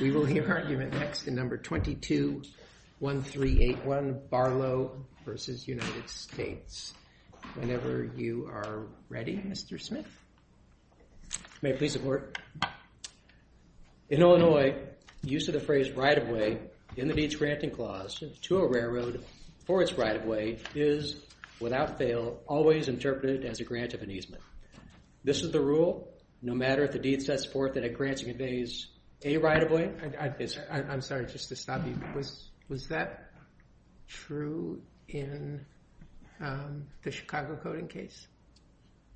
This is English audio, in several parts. We will hear argument next in No. 22-1381, Barlow v. United States. Whenever you are ready, Mr. Smith. May I please have a word? In Illinois, the use of the phrase right-of-way in the Needs Granting Clause to a railroad for its right-of-way is, without fail, always interpreted as a grant of an easement. This is the rule, no matter if the deed sets forth that a grant should be raised a right-of-way. I'm sorry, just to stop you. Was that true in the Chicago coding case?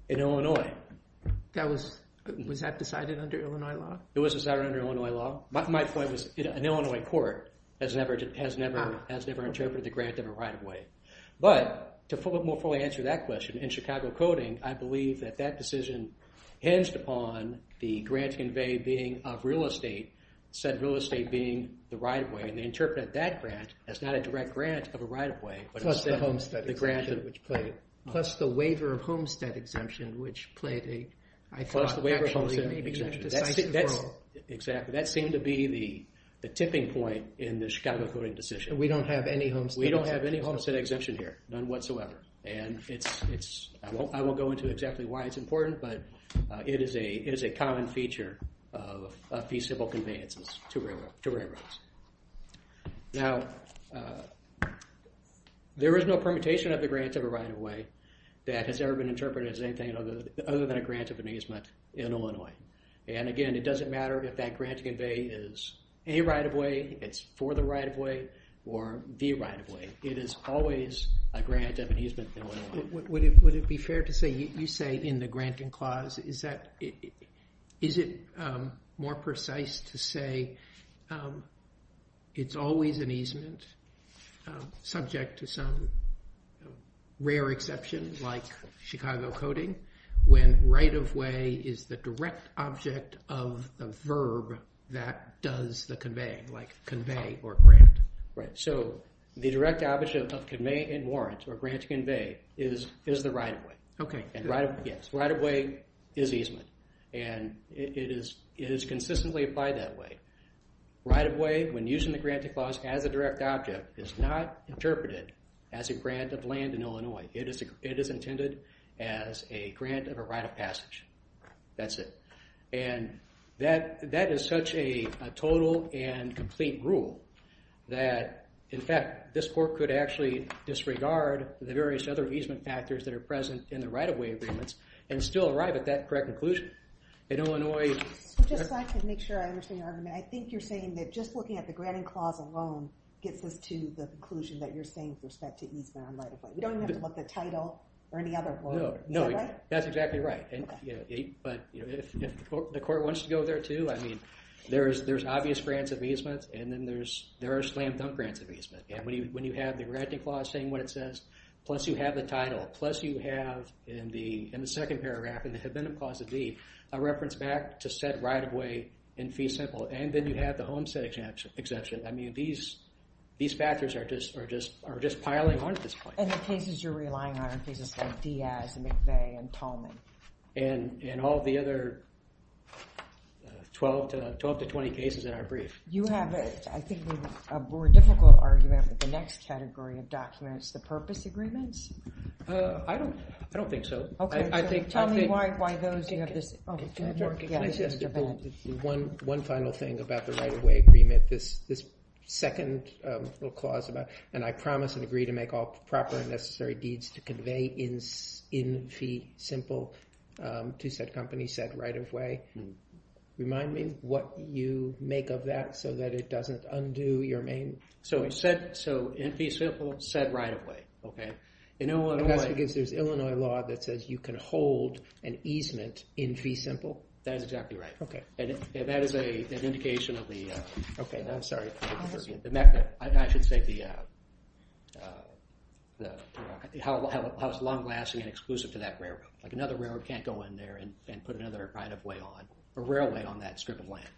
In Illinois. Was that decided under Illinois law? It was decided under Illinois law. My point was an Illinois court has never interpreted the grant of a right-of-way. But, to more fully answer that question, in Chicago coding, I believe that that decision hinged upon the grant conveyed being of real estate, said real estate being the right-of-way, and they interpreted that grant as not a direct grant of a right-of-way. Plus the waiver of homestead exemption, which played a... Plus the waiver of homestead exemption. Exactly. That seemed to be the tipping point in the Chicago coding decision. We don't have any homestead... We don't have any homestead exemption here, none whatsoever. And I won't go into exactly why it's important, but it is a common feature of fee civil conveyances to railroads. Now, there is no permutation of the grant of a right-of-way that has ever been interpreted as anything other than a grant of an easement in Illinois. And again, it doesn't matter if that grant conveyance is a right-of-way, it's for the right-of-way, or the right-of-way. It is always a grant of an easement in Illinois. Would it be fair to say, you say in the granting clause, is it more precise to say it's always an easement subject to some rare exception, like Chicago coding, when right-of-way is the direct object of the verb that does the conveying, like convey or grant? Right, so the direct object of convey and warrant, or grant to convey, is the right-of-way. Okay. Yes, right-of-way is easement, and it is consistently applied that way. Right-of-way, when using the granting clause as a direct object, is not interpreted as a grant of land in Illinois. It is intended as a grant of a right of passage. That's it. And that is such a total and complete rule that, in fact, this court could actually disregard the various other easement factors that are present in the right-of-way agreements and still arrive at that correct conclusion. In Illinois- So just so I can make sure I understand your argument, I think you're saying that just looking at the granting clause alone gets us to the conclusion that you're saying with respect to easement on right-of-way. You don't have to look at the title or any other law. No, that's exactly right. But if the court wants to go there, too, I mean, there's obvious grants of easement, and then there are slam-dunk grants of easement. And when you have the granting clause saying what it says, plus you have the title, plus you have, in the second paragraph, in the abandonment clause of D, a reference back to said right-of-way in fee simple, and then you have the homestead exemption. I mean, these factors are just piling on at this point. And the cases you're relying on are cases like Diaz and McVeigh and Tolman. And all the other 12 to 20 cases in our brief. You have, I think, a more difficult argument with the next category of documents, the purpose agreements? I don't think so. Okay. Tell me why those- One final thing about the right-of-way agreement. This second clause, and I promise and agree to make all proper and necessary deeds to convey in fee simple to said company said right-of-way. Remind me what you make of that so that it doesn't undo your main- So in fee simple, said right-of-way. Okay. Because there's Illinois law that says you can hold an easement in fee simple? That is exactly right. Okay. And that is an indication of the- Okay. I'm sorry. I should say how it's long-lasting and exclusive to that railroad. Like another railroad can't go in there and put another right-of-way on, a railway on that strip of land.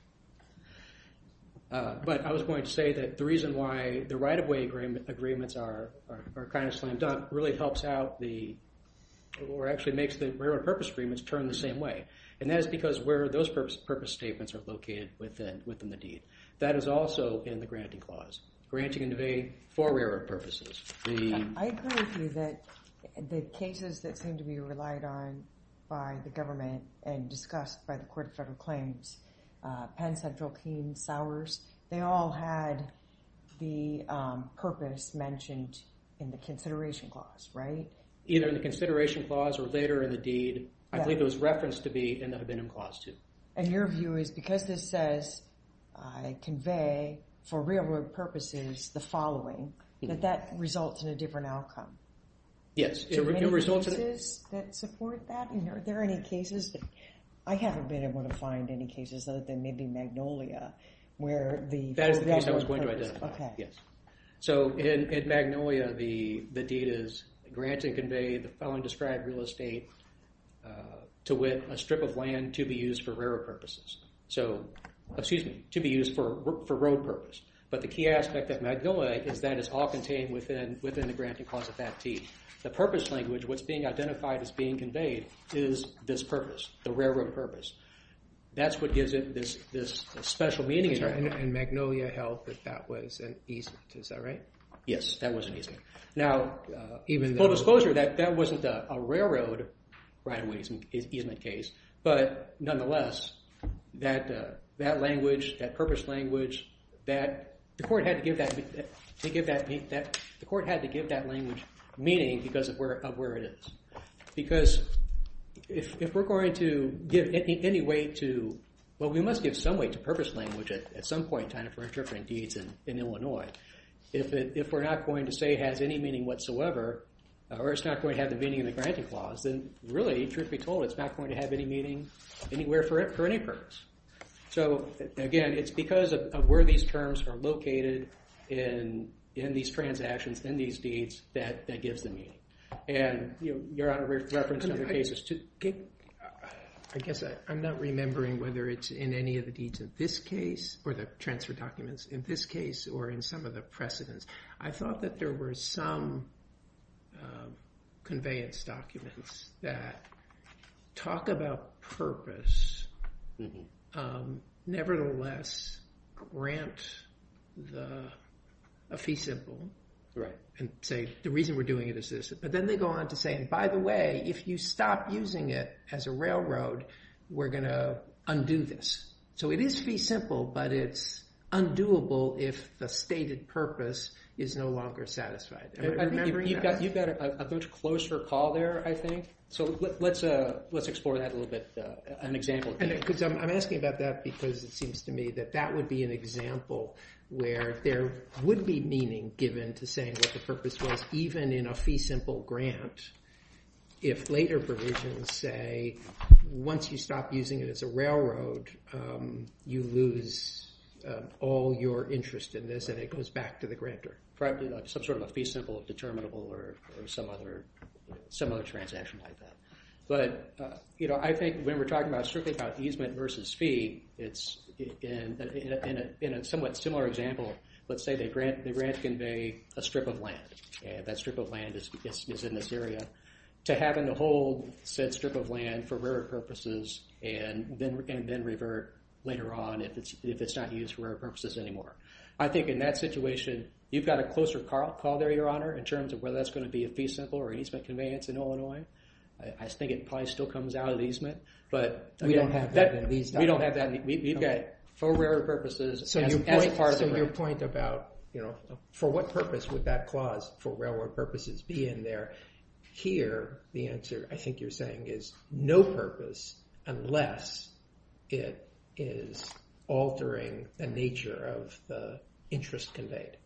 But I was going to say that the reason why the right-of-way agreements are kind of slammed down really helps out the- or actually makes the railroad purpose agreements turn the same way. And that is because where those purpose statements are located within the deed. That is also in the granting clause. Granting and convey for railroad purposes. I agree with you that the cases that seem to be relied on by the government and discussed by the Court of Federal Claims. Penn, Central, Keene, Sowers. They all had the purpose mentioned in the consideration clause, right? Either in the consideration clause or later in the deed. I believe it was referenced to be in the abendum clause too. And your view is because this says, I convey for railroad purposes the following, that that results in a different outcome. Yes. Are there any cases that support that? Are there any cases that- I haven't been able to find any cases other than maybe Magnolia where the- That is the case I was going to identify. Okay. So in Magnolia, the deed is granting convey the following described real estate to win a strip of land to be used for railroad purposes. So, excuse me, to be used for road purpose. But the key aspect of Magnolia is that it's all contained within the granting clause of that deed. The purpose language, what's being identified as being conveyed is this purpose, the railroad purpose. That's what gives it this special meaning. And Magnolia held that that was an easement. Is that right? Yes, that was an easement. Now, full disclosure, that wasn't a railroad right-of-way easement case. But nonetheless, that language, that purpose language, that the court had to give that meaning because of where it is. Because if we're going to give any way to- Well, we must give some way to purpose language at some point time for interpreting deeds in Illinois. If we're not going to say it has any meaning whatsoever, or it's not going to have the meaning in the granting clause, then really, truth be told, it's not going to have any meaning anywhere for any purpose. So, again, it's because of where these terms are located in these transactions, in these deeds, that that gives the meaning. And Your Honor referenced other cases too. I guess I'm not remembering whether it's in any of the deeds in this case, or the transfer documents in this case, or in some of the precedents. I thought that there were some conveyance documents that talk about purpose, nevertheless grant a fee simple. Right. And say the reason we're doing it is this. But then they go on to say, and by the way, if you stop using it as a railroad, we're going to undo this. So it is fee simple, but it's undoable if the stated purpose is no longer satisfied. I think you've got a much closer call there, I think. So let's explore that a little bit, an example. Because I'm asking about that because it seems to me that that would be an example where there would be meaning given to saying what the purpose was, even in a fee simple grant. If later provisions say, once you stop using it as a railroad, you lose all your interest in this, and it goes back to the grantor. Some sort of a fee simple, determinable, or some other transaction like that. But I think when we're talking strictly about easement versus fee, in a somewhat similar example, let's say they grant convey a strip of land. That strip of land is in this area, to having to hold said strip of land for rarer purposes and then revert later on if it's not used for rarer purposes anymore. I think in that situation, you've got a closer call there, Your Honor, in terms of whether that's going to be a fee simple or easement conveyance in Illinois. I think it probably still comes out of easement. But we don't have that. We've got for rarer purposes as part of it. So your point about, for what purpose would that clause, for rarer purposes, be in there? Here, the answer, I think you're saying, is no purpose unless it is altering the nature of the interest conveyed.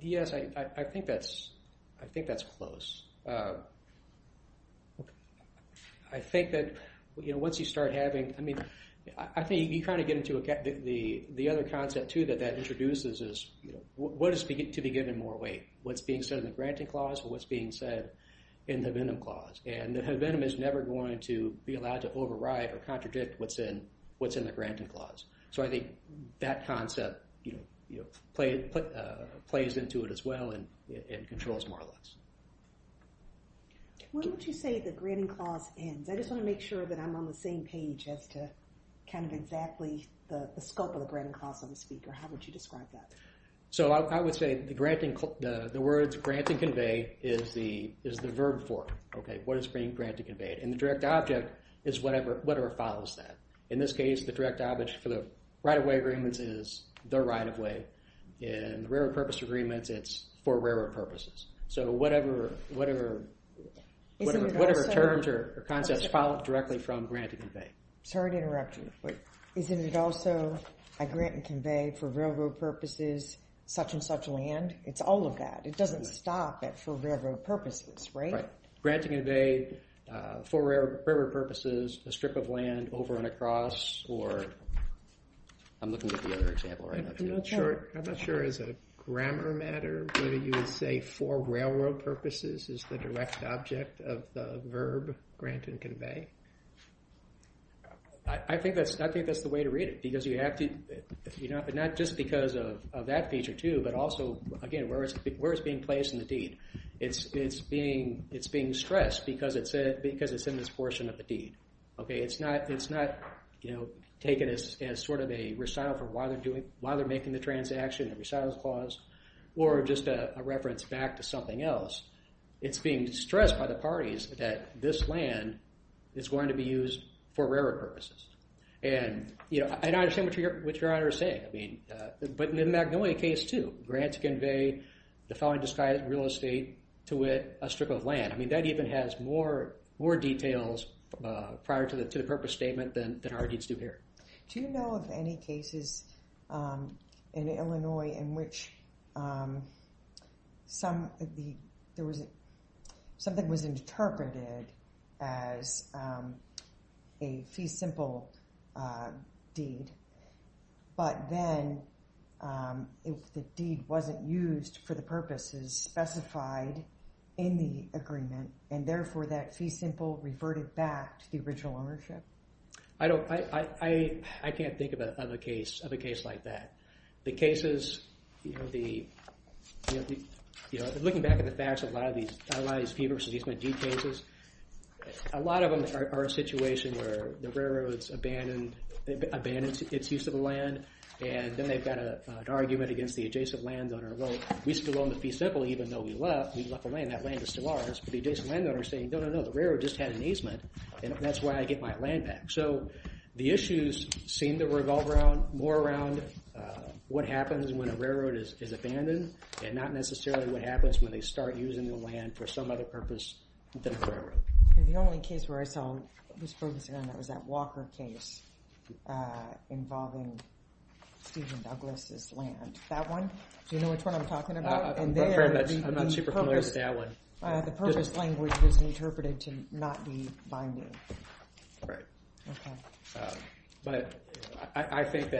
Yes, I think that's close. I think that once you start having, I mean, I think you kind of get into the other concept, too, that that introduces is what is to be given more weight? What's being said in the granting clause or what's being said in the Venom clause? And the Venom is never going to be allowed to override or contradict what's in the granting clause. So I think that concept plays into it as well and controls more or less. When would you say the granting clause ends? I just want to make sure that I'm on the same page as to kind of exactly the scope of the granting clause on the speaker. How would you describe that? So I would say the words grant and convey is the verb form. What is being granted conveyed? And the direct object is whatever follows that. In this case, the direct object for the right-of-way agreements is the right-of-way. In railroad purpose agreements, it's for railroad purposes. So whatever terms or concepts follow directly from grant and convey. Sorry to interrupt you, but isn't it also a grant and convey for railroad purposes such and such land? It's all of that. It doesn't stop at for railroad purposes, right? Grant and convey for railroad purposes, a strip of land over and across. Or I'm looking at the other example right now. I'm not sure. I'm not sure. Is it a grammar matter? Maybe you would say for railroad purposes is the direct object of the verb grant and convey? I think that's the way to read it because you have to, not just because of that feature too, but also, again, where it's being placed in the deed. It's being stressed because it's in this portion of the deed. Okay? It's not taken as sort of a recital for why they're making the transaction, a recital clause, or just a reference back to something else. It's being stressed by the parties that this land is going to be used for railroad purposes. And I understand what Your Honor is saying, but in the Magnolia case too, grants convey the following disguised real estate to it, a strip of land. I mean, that even has more details prior to the purpose statement than our deeds do here. Do you know of any cases in Illinois in which something was interpreted as a fee simple deed, but then the deed wasn't used for the purposes specified in the agreement, and therefore that fee simple reverted back to the original ownership? I can't think of a case like that. The cases, looking back at the facts of a lot of these fee versus deed cases, a lot of them are a situation where the railroad's abandoned its use of the land, and then they've got an argument against the adjacent landowner. Well, we still own the fee simple even though we left the land. That land is still ours. But the adjacent landowner is saying, no, no, no, the railroad just had an easement, and that's why I get my land back. So the issues seem to revolve more around what happens when a railroad is abandoned and not necessarily what happens when they start using the land for some other purpose than the railroad. The only case where I saw this focusing on that was that Walker case involving Stephen Douglas' land. That one? Do you know which one I'm talking about? I'm not super familiar with that one. The purpose language was interpreted to not be binding. Right. Okay. But I think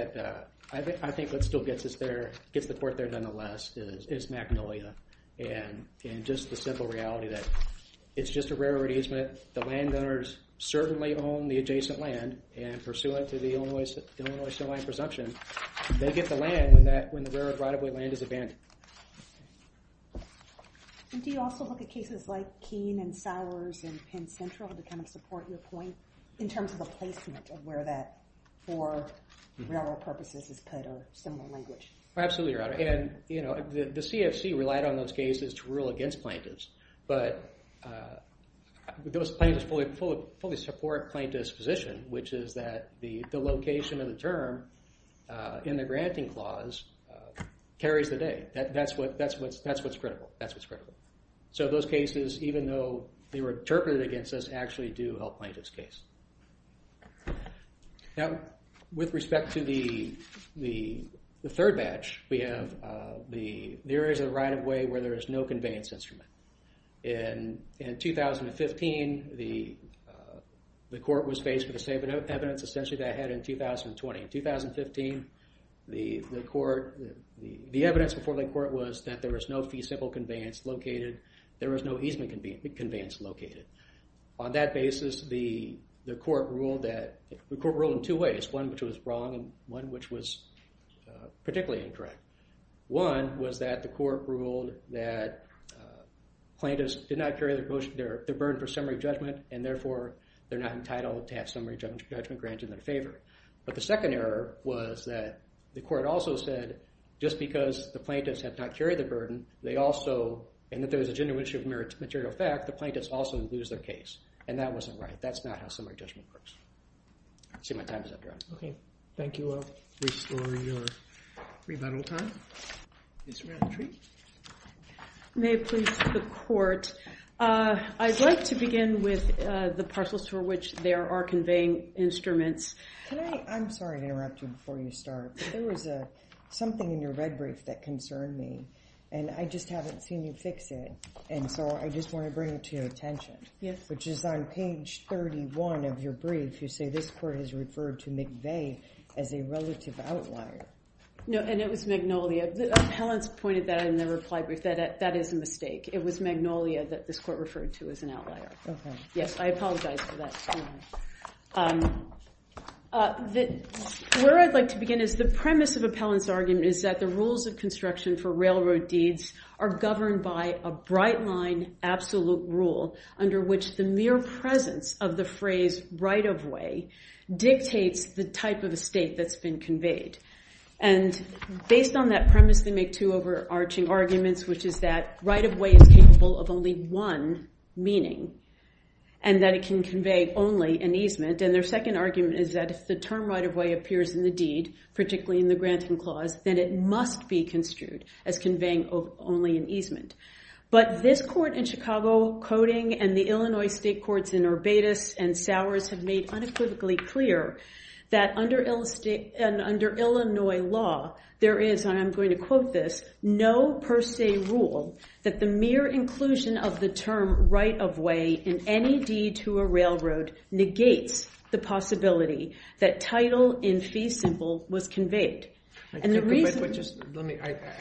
what still gets us there, gets the court there nonetheless, is Magnolia and just the simple reality that it's just a railroad easement. The landowners certainly own the adjacent land, and pursuant to the Illinois State line presumption, they get the land when the railroad right-of-way land is abandoned. Do you also look at cases like Keene and Sowers and Penn Central to kind of support your point in terms of the placement of where that for railroad purposes is put or similar language? Absolutely, Your Honor. And, you know, the CFC relied on those cases to rule against plaintiffs, but those plaintiffs fully support plaintiff's position, which is that the location of the term in the granting clause carries the day. That's what's critical. That's what's critical. So those cases, even though they were interpreted against us, actually do help plaintiffs' case. Now, with respect to the third batch, we have the areas of the right-of-way where there is no conveyance instrument. In 2015, the court was faced with the same evidence essentially that it had in 2020. In 2015, the evidence before the court was that there was no fee-simple conveyance located. There was no easement conveyance located. On that basis, the court ruled in two ways, one which was wrong and one which was particularly incorrect. One was that the court ruled that plaintiffs did not carry their burden for summary judgment and, therefore, they're not entitled to have summary judgment granted in their favor. But the second error was that the court also said, just because the plaintiffs had not carried the burden, they also, and that there was a genuineness of material fact, the plaintiffs also lose their case. And that wasn't right. That's not how summary judgment works. I see my time is up, Your Honor. Okay. Thank you. Please surround the tree. May it please the court. I'd like to begin with the parcels for which there are conveying instruments. Can I? I'm sorry to interrupt you before you start. There was something in your red brief that concerned me, and I just haven't seen you fix it, and so I just want to bring it to your attention. Yes. Which is on page 31 of your brief. You say this court has referred to McVeigh as a relative outlier. No, and it was Magnolia. Helen's pointed that in the reply brief. That is a mistake. It was Magnolia that this court referred to as an outlier. Yes, I apologize for that. Where I'd like to begin is the premise of Appellant's argument is that the rules of construction for railroad deeds are governed by a bright line absolute rule under which the mere presence of the phrase right-of-way dictates the type of estate that's been conveyed. And based on that premise, they make two overarching arguments, which is that right-of-way is capable of only one meaning, and that it can convey only an easement. And their second argument is that if the term right-of-way appears in the deed, particularly in the granting clause, then it must be construed as conveying only an easement. But this court in Chicago coding and the Illinois state courts in Urbatus and Sowers have made unequivocally clear that under Illinois law, there is, and I'm going to quote this, no per se rule that the mere inclusion of the term right-of-way in any deed to a railroad negates the possibility that title in fee simple was conveyed. I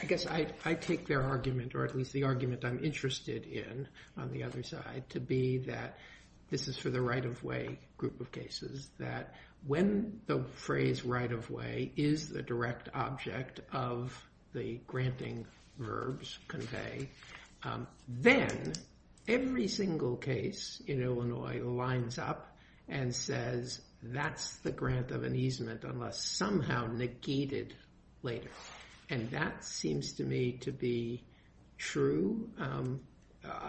guess I take their argument, or at least the argument I'm interested in on the other side, to be that this is for the right-of-way group of cases, that when the phrase right-of-way is the direct object of the granting verbs convey, then every single case in Illinois lines up and says that's the grant of an easement unless somehow negated later. And that seems to me to be true,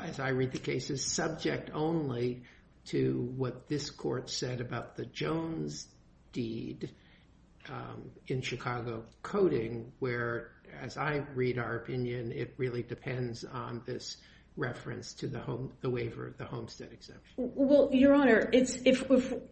as I read the cases, is subject only to what this court said about the Jones deed in Chicago coding, where, as I read our opinion, it really depends on this reference to the waiver of the Homestead exemption. Well, Your Honor,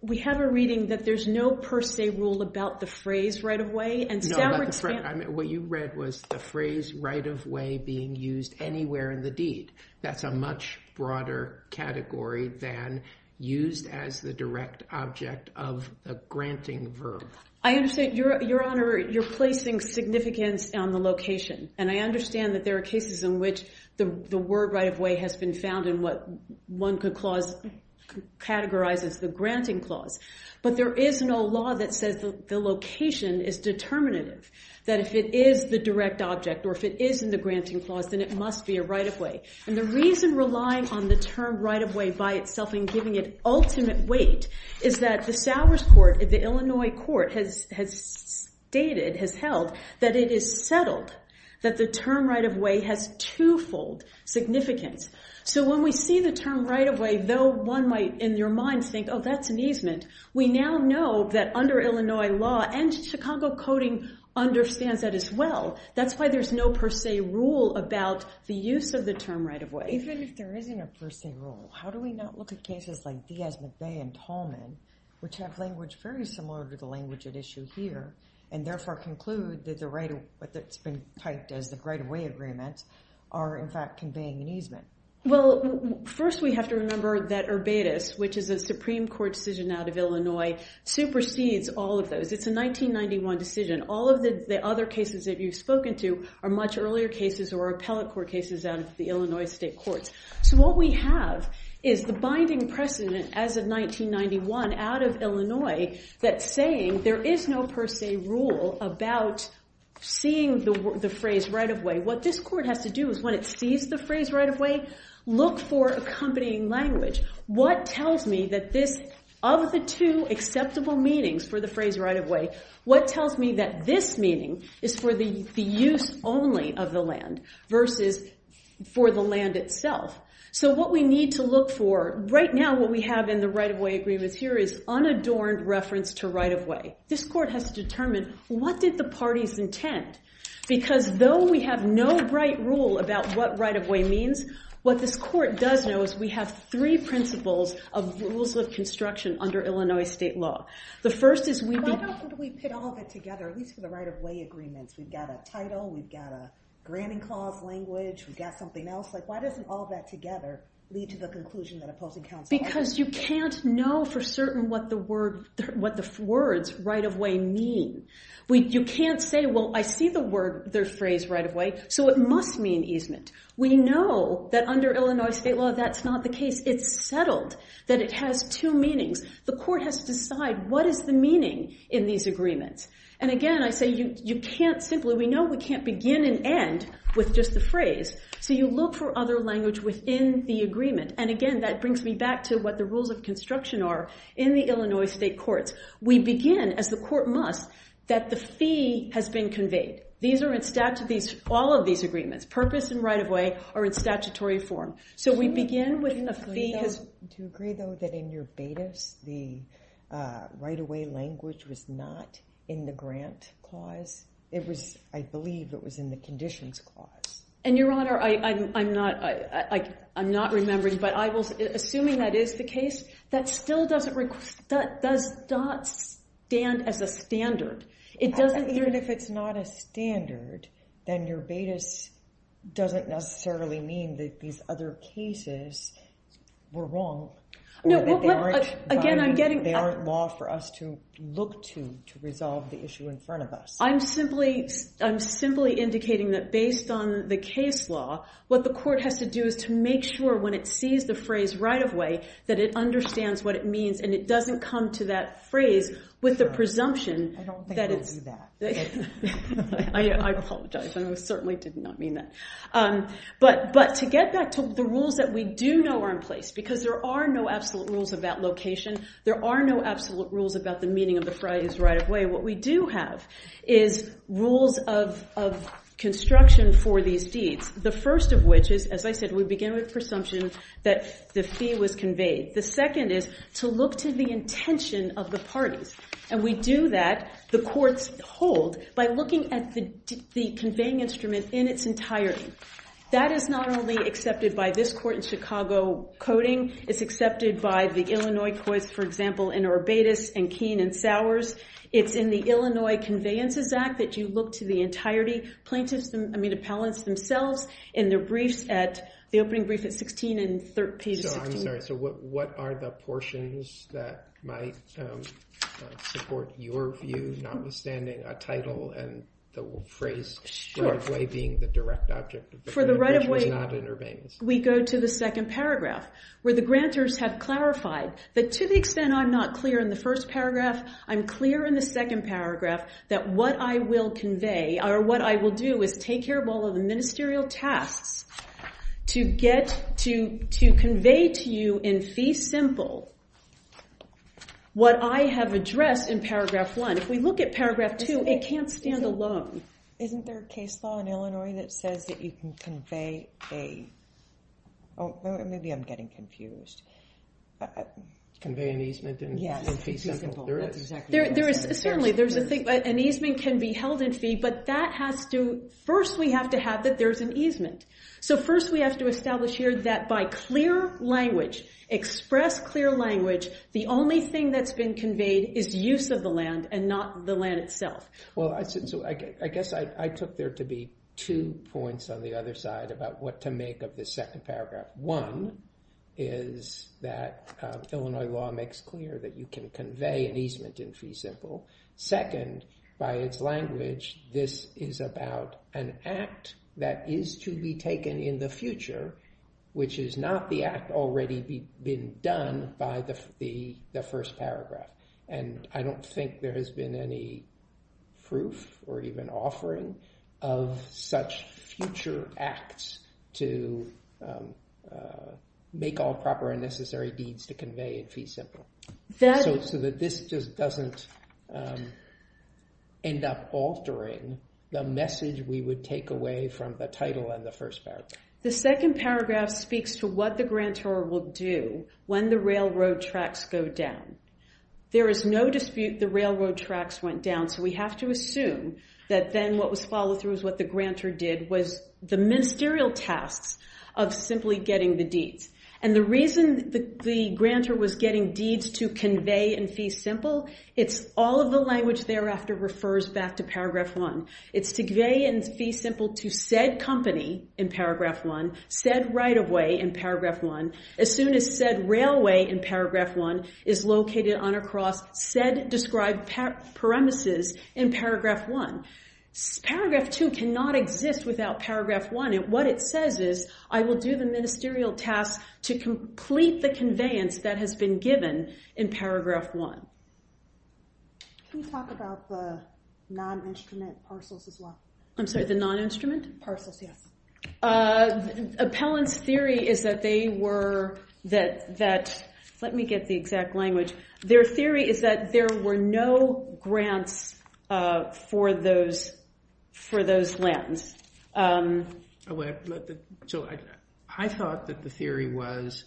we have a reading that there's no per se rule about the phrase right-of-way. No, but what you read was the phrase right-of-way being used anywhere in the deed. That's a much broader category than used as the direct object of a granting verb. I understand, Your Honor, you're placing significance on the location. And I understand that there are cases in which the word right-of-way has been found in what one could categorize as the granting clause. But there is no law that says the location is determinative, that if it is the direct object or if it is in the granting clause, then it must be a right-of-way. And the reason relying on the term right-of-way by itself and giving it ultimate weight is that the Sowers Court, the Illinois court, has stated, has held, that it is settled that the term right-of-way has twofold significance. So when we see the term right-of-way, though one might in their minds think, oh, that's an easement, we now know that under Illinois law, and Chicago coding understands that as well, that's why there's no per se rule about the use of the term right-of-way. Even if there isn't a per se rule, how do we not look at cases like Diaz, McVeigh, and Tolman, which have language very similar to the language at issue here, and therefore conclude that what's been typed as the right-of-way agreements are in fact conveying an easement? Well, first we have to remember that Urbatus, which is a Supreme Court decision out of Illinois, supersedes all of those. It's a 1991 decision. All of the other cases that you've spoken to are much earlier cases or appellate court cases out of the Illinois state courts. So what we have is the binding precedent as of 1991 out of Illinois that's saying there is no per se rule about seeing the phrase right-of-way. What this court has to do is when it sees the phrase right-of-way, look for accompanying language. What tells me that this, of the two acceptable meanings for the phrase right-of-way, what tells me that this meaning is for the use only of the land versus for the land itself? So what we need to look for right now, what we have in the right-of-way agreements here, is unadorned reference to right-of-way. This court has to determine what did the parties intend? Because though we have no right rule about what right-of-way means, what this court does know is we have three principles of rules of construction under Illinois state law. The first is we be- Why don't we put all of it together, at least for the right-of-way agreements? We've got a title. We've got a granting clause language. We've got something else. Why doesn't all of that together lead to the conclusion that opposing counsel- Because you can't know for certain what the words right-of-way mean. You can't say, well, I see the word, the phrase right-of-way, so it must mean easement. We know that under Illinois state law that's not the case. It's settled that it has two meanings. The court has to decide what is the meaning in these agreements. And again, I say you can't simply- We know we can't begin and end with just the phrase, so you look for other language within the agreement. And again, that brings me back to what the rules of construction are in the Illinois state courts. We begin, as the court must, that the fee has been conveyed. These are in statute, all of these agreements, purpose and right-of-way are in statutory form. So we begin with the fee has- Do you agree, though, that in Urbatus, the right-of-way language was not in the grant clause? I believe it was in the conditions clause. And, Your Honor, I'm not remembering, but assuming that is the case, that still does not stand as a standard. Even if it's not a standard, then Urbatus doesn't necessarily mean that these other cases were wrong. Or that they aren't law for us to look to to resolve the issue in front of us. I'm simply indicating that, based on the case law, what the court has to do is to make sure, when it sees the phrase right-of-way, that it understands what it means and it doesn't come to that phrase with the presumption- I don't think they do that. I apologize. I certainly did not mean that. But to get back to the rules that we do know are in place, because there are no absolute rules about location, there are no absolute rules about the meaning of the phrase right-of-way, what we do have is rules of construction for these deeds. The first of which is, as I said, we begin with presumption that the fee was conveyed. The second is to look to the intention of the parties. And we do that, the courts hold, by looking at the conveying instrument in its entirety. That is not only accepted by this court in Chicago coding. It's accepted by the Illinois courts, for example, in Urbatus and Keene and Sowers. It's in the Illinois Conveyances Act that you look to the entirety plaintiffs, I mean, appellants themselves, in their briefs at- the opening brief at 16 and page 16. Sorry, so what are the portions that might support your view, notwithstanding a title and the phrase right-of-way being the direct object of the grant? For the right-of-way, we go to the second paragraph, where the grantors have clarified that to the extent I'm not clear in the first paragraph, I'm clear in the second paragraph that what I will convey, or what I will do is take care of all of the ministerial tasks to get- to convey to you in fee simple what I have addressed in paragraph one. If we look at paragraph two, it can't stand alone. Isn't there a case law in Illinois that says that you can convey a- oh, maybe I'm getting confused. Convey an easement in fee simple. There is. Certainly, there's a thing- an easement can be held in fee, but that has to- first, we have to have that there's an easement. So first, we have to establish here that by clear language, express clear language, the only thing that's been conveyed is use of the land and not the land itself. Well, I guess I took there to be two points on the other side about what to make of this second paragraph. One is that Illinois law makes clear that you can convey an easement in fee simple. Second, by its language, this is about an act that is to be taken in the future, which is not the act already been done by the first paragraph. And I don't think there has been any proof or even offering of such future acts to make all proper and necessary deeds to convey in fee simple. So that this just doesn't end up altering the message we would take away from the title and the first paragraph. The second paragraph speaks to what the grantor will do when the railroad tracks go down. There is no dispute the railroad tracks went down, so we have to assume that then what was followed through is what the grantor did was the ministerial tasks of simply getting the deeds. And the reason the grantor was getting deeds to convey in fee simple, it's all of the language thereafter refers back to paragraph one. It's to convey in fee simple to said company in paragraph one, said right-of-way in paragraph one, as soon as said railway in paragraph one is located on or across said described premises in paragraph one. Paragraph two cannot exist without paragraph one. What it says is, I will do the ministerial tasks to complete the conveyance that has been given in paragraph one. Can you talk about the non-instrument parcels as well? I'm sorry, the non-instrument? Parcels, yes. Appellant's theory is that they were, let me get the exact language. Their theory is that there were no grants for those lands. So I thought that the theory was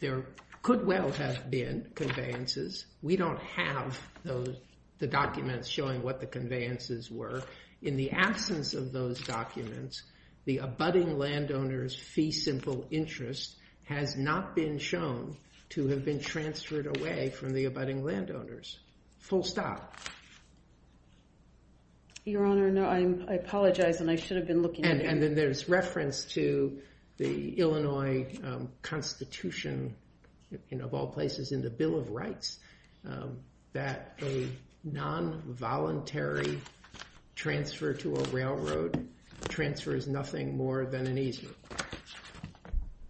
there could well have been conveyances. We don't have the documents showing what the conveyances were. In the absence of those documents, the abutting landowner's fee simple interest has not been shown to have been transferred away from the abutting landowners. Full stop. Your Honor, no, I apologize. And I should have been looking at it. And then there's reference to the Illinois Constitution of all places in the Bill of Rights that a non-voluntary transfer to a railroad transfers nothing more than an easement.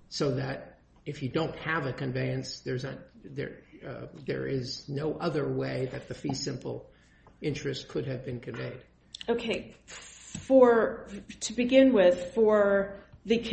So that if you don't have a conveyance, there is no other way that the fee simple interest could have been conveyed. Okay, to begin with, for the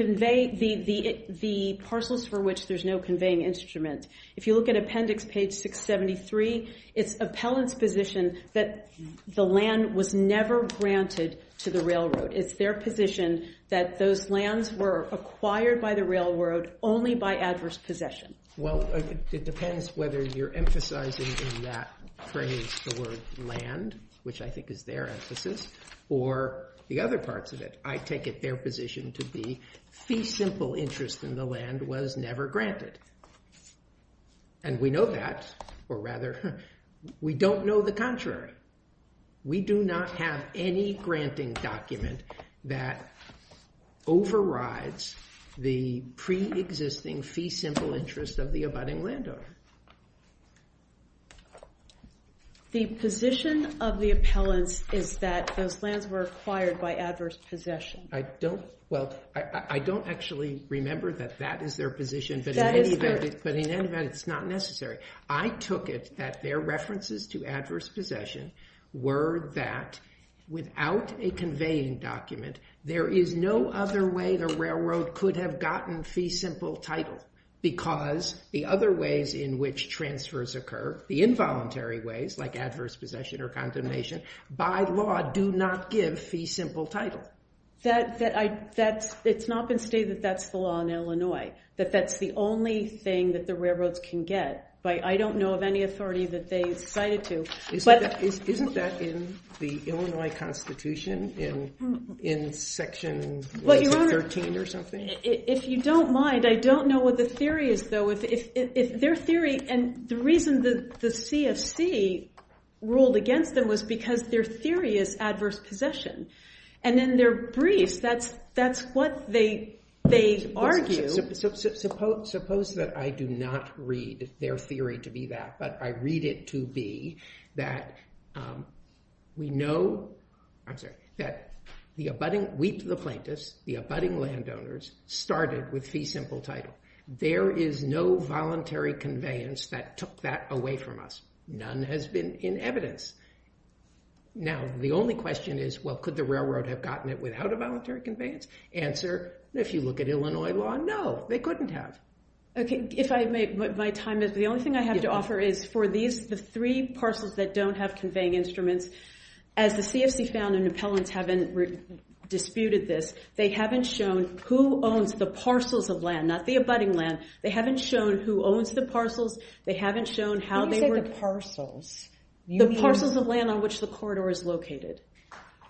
parcels for which there's no conveying instrument, if you look at appendix page 673, it's appellant's position that the land was never granted to the railroad. It's their position that those lands were acquired by the railroad only by adverse possession. Well, it depends whether you're emphasizing in that phrase the word land, which I think is their emphasis, or the other parts of it. I take it their position to be fee simple interest in the land was never granted. And we know that, or rather, we don't know the contrary. We do not have any granting document that overrides the pre-existing fee simple interest of the abutting landowner. The position of the appellants is that those lands were acquired by adverse possession. I don't actually remember that that is their position, but in any event, it's not necessary. I took it that their references to adverse possession were that without a conveying document, there is no other way the railroad could have gotten fee simple title, because the other ways in which transfers occur, the involuntary ways, like adverse possession or condemnation, by law do not give fee simple title. It's not been stated that that's the law in Illinois, that that's the only thing that the railroads can get. I don't know of any authority that they've cited to. Isn't that in the Illinois Constitution, in section 113 or something? If you don't mind, I don't know what the theory is, though. If their theory, and the reason the CFC ruled against them was because their theory is adverse possession. And in their briefs, that's what they argue. Suppose that I do not read their theory to be that, but I read it to be that we know, I'm sorry, that the abutting, we to the plaintiffs, the abutting landowners started with fee simple title. There is no voluntary conveyance that took that away from us. None has been in evidence. Now, the only question is, well, could the railroad have gotten it without a voluntary conveyance? Answer, if you look at Illinois law, no, they couldn't have. If I may, my time is up. The only thing I have to offer is for these, the three parcels that don't have conveying instruments, as the CFC found and appellants haven't disputed this, they haven't shown who owns the parcels of land, not the abutting land. They haven't shown who owns the parcels. They haven't shown how they work. What do you say the parcels? The parcels of land on which the corridor is located.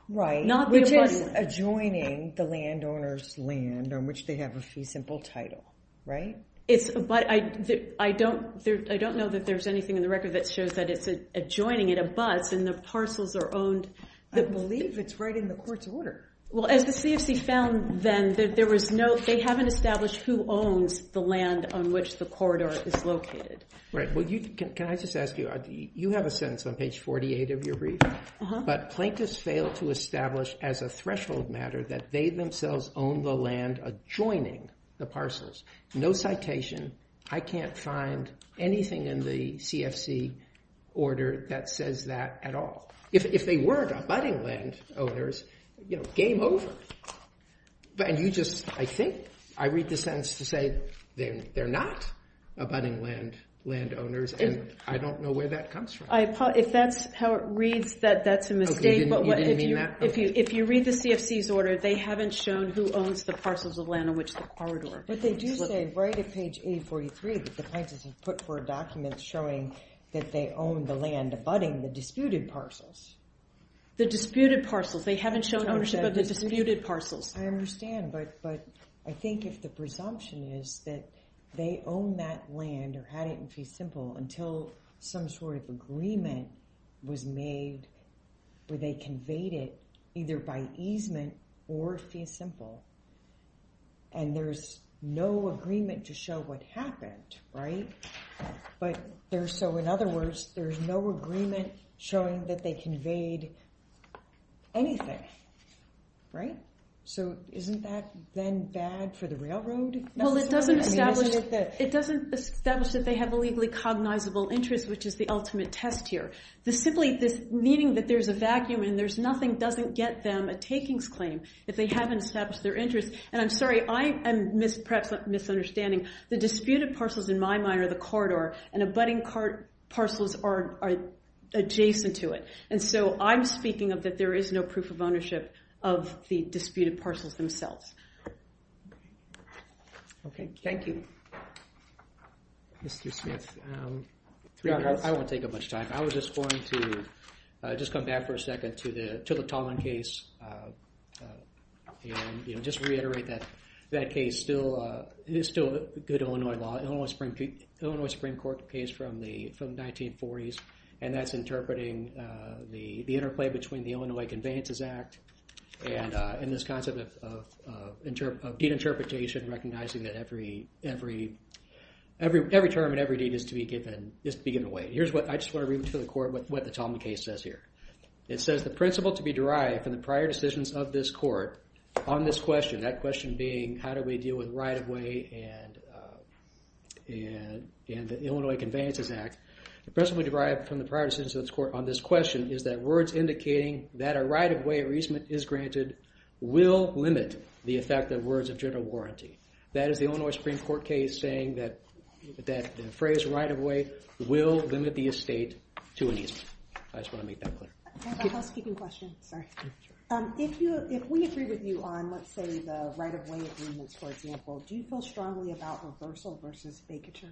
Right. Not the abutting. Which is adjoining the landowner's land on which they have a fee simple title, right? But I don't know that there's anything in the record that shows that it's adjoining, it abuts, and the parcels are owned. I believe it's right in the court's order. Well, as the CFC found then, they haven't established who owns the land on which the corridor is located. Right. Well, can I just ask you, you have a sentence on page 48 of your brief, but plaintiffs fail to establish as a threshold matter that they themselves own the land adjoining the parcels. No citation. I can't find anything in the CFC order that says that at all. If they weren't abutting landowners, you know, game over. And you just, I think, I read the sentence to say they're not abutting landowners, and I don't know where that comes from. If that's how it reads, that's a mistake. You didn't mean that? If you read the CFC's order, they haven't shown who owns the parcels of land on which the corridor is located. But they do say right at page 843 that the plaintiffs have put forward documents showing that they own the land abutting the disputed parcels. The disputed parcels. They haven't shown ownership of the disputed parcels. I understand, but I think if the presumption is that they own that land or had it in fee simple until some sort of agreement was made where they conveyed it either by easement or fee simple, and there's no agreement to show what happened, right? So in other words, there's no agreement showing that they conveyed anything, right? So isn't that then bad for the railroad? Well, it doesn't establish that they have a legally cognizable interest, which is the ultimate test here. Simply this meaning that there's a vacuum and there's nothing doesn't get them a takings claim if they haven't established their interest. And I'm sorry, I am perhaps misunderstanding. The disputed parcels in my mind are the corridor and abutting parcels are adjacent to it. And so I'm speaking of that there is no proof of ownership of the disputed parcels themselves. Okay, thank you. Mr. Smith, three minutes. I won't take up much time. I was just going to just come back for a second to the Tallman case and just reiterate that that case is still a good Illinois law. Illinois Supreme Court case from the 1940s, and that's interpreting the interplay between the Illinois Conveyances Act and this concept of deed interpretation, recognizing that every term and every deed is to be given away. Here's what I just want to read to the court what the Tallman case says here. It says the principle to be derived from the prior decisions of this court on this question, that question being how do we deal with right-of-way and the Illinois Conveyances Act, the principle to be derived from the prior decisions of this court on this question is that words indicating that a right-of-way or easement is granted will limit the effect of words of general warranty. That is the Illinois Supreme Court case saying that the phrase right-of-way will limit the estate to an easement. I just want to make that clear. I have a housekeeping question. Sorry. If we agree with you on, let's say, the right-of-way agreements, for example, do you feel strongly about reversal versus vacature?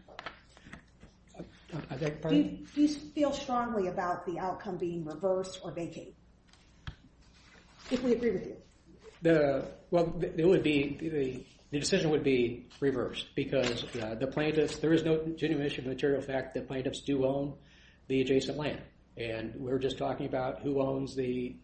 I beg your pardon? Do you feel strongly about the outcome being reverse or vacate? If we agree with you. Well, the decision would be reverse because there is no genuine issue of the material fact that plaintiffs do own the adjacent land, and we were just talking about who has the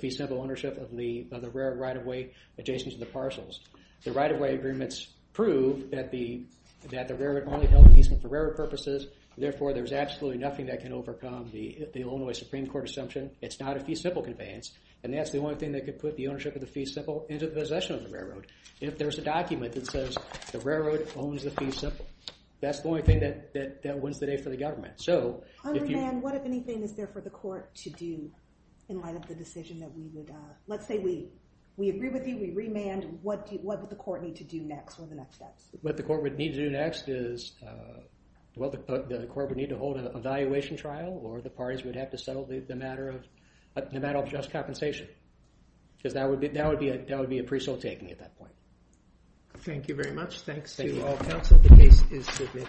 fee simple ownership of the railroad right-of-way adjacent to the parcels. The right-of-way agreements prove that the railroad only held easement for railroad purposes, therefore there's absolutely nothing that can overcome the Illinois Supreme Court assumption. It's not a fee simple conveyance, and that's the only thing that could put the ownership of the fee simple into the possession of the railroad. If there's a document that says the railroad owns the fee simple, that's the only thing that wins the day for the government. So if you... On remand, what, if anything, is there for the court to do in light of the decision that we would... Let's say we agree with you, we remand, what would the court need to do next or the next steps? What the court would need to do next is, well, the court would need to hold an evaluation trial or the parties would have to settle the matter of just compensation because that would be a preso taking at that point. Thank you very much. Thanks to you all, counsel. The case is submitted.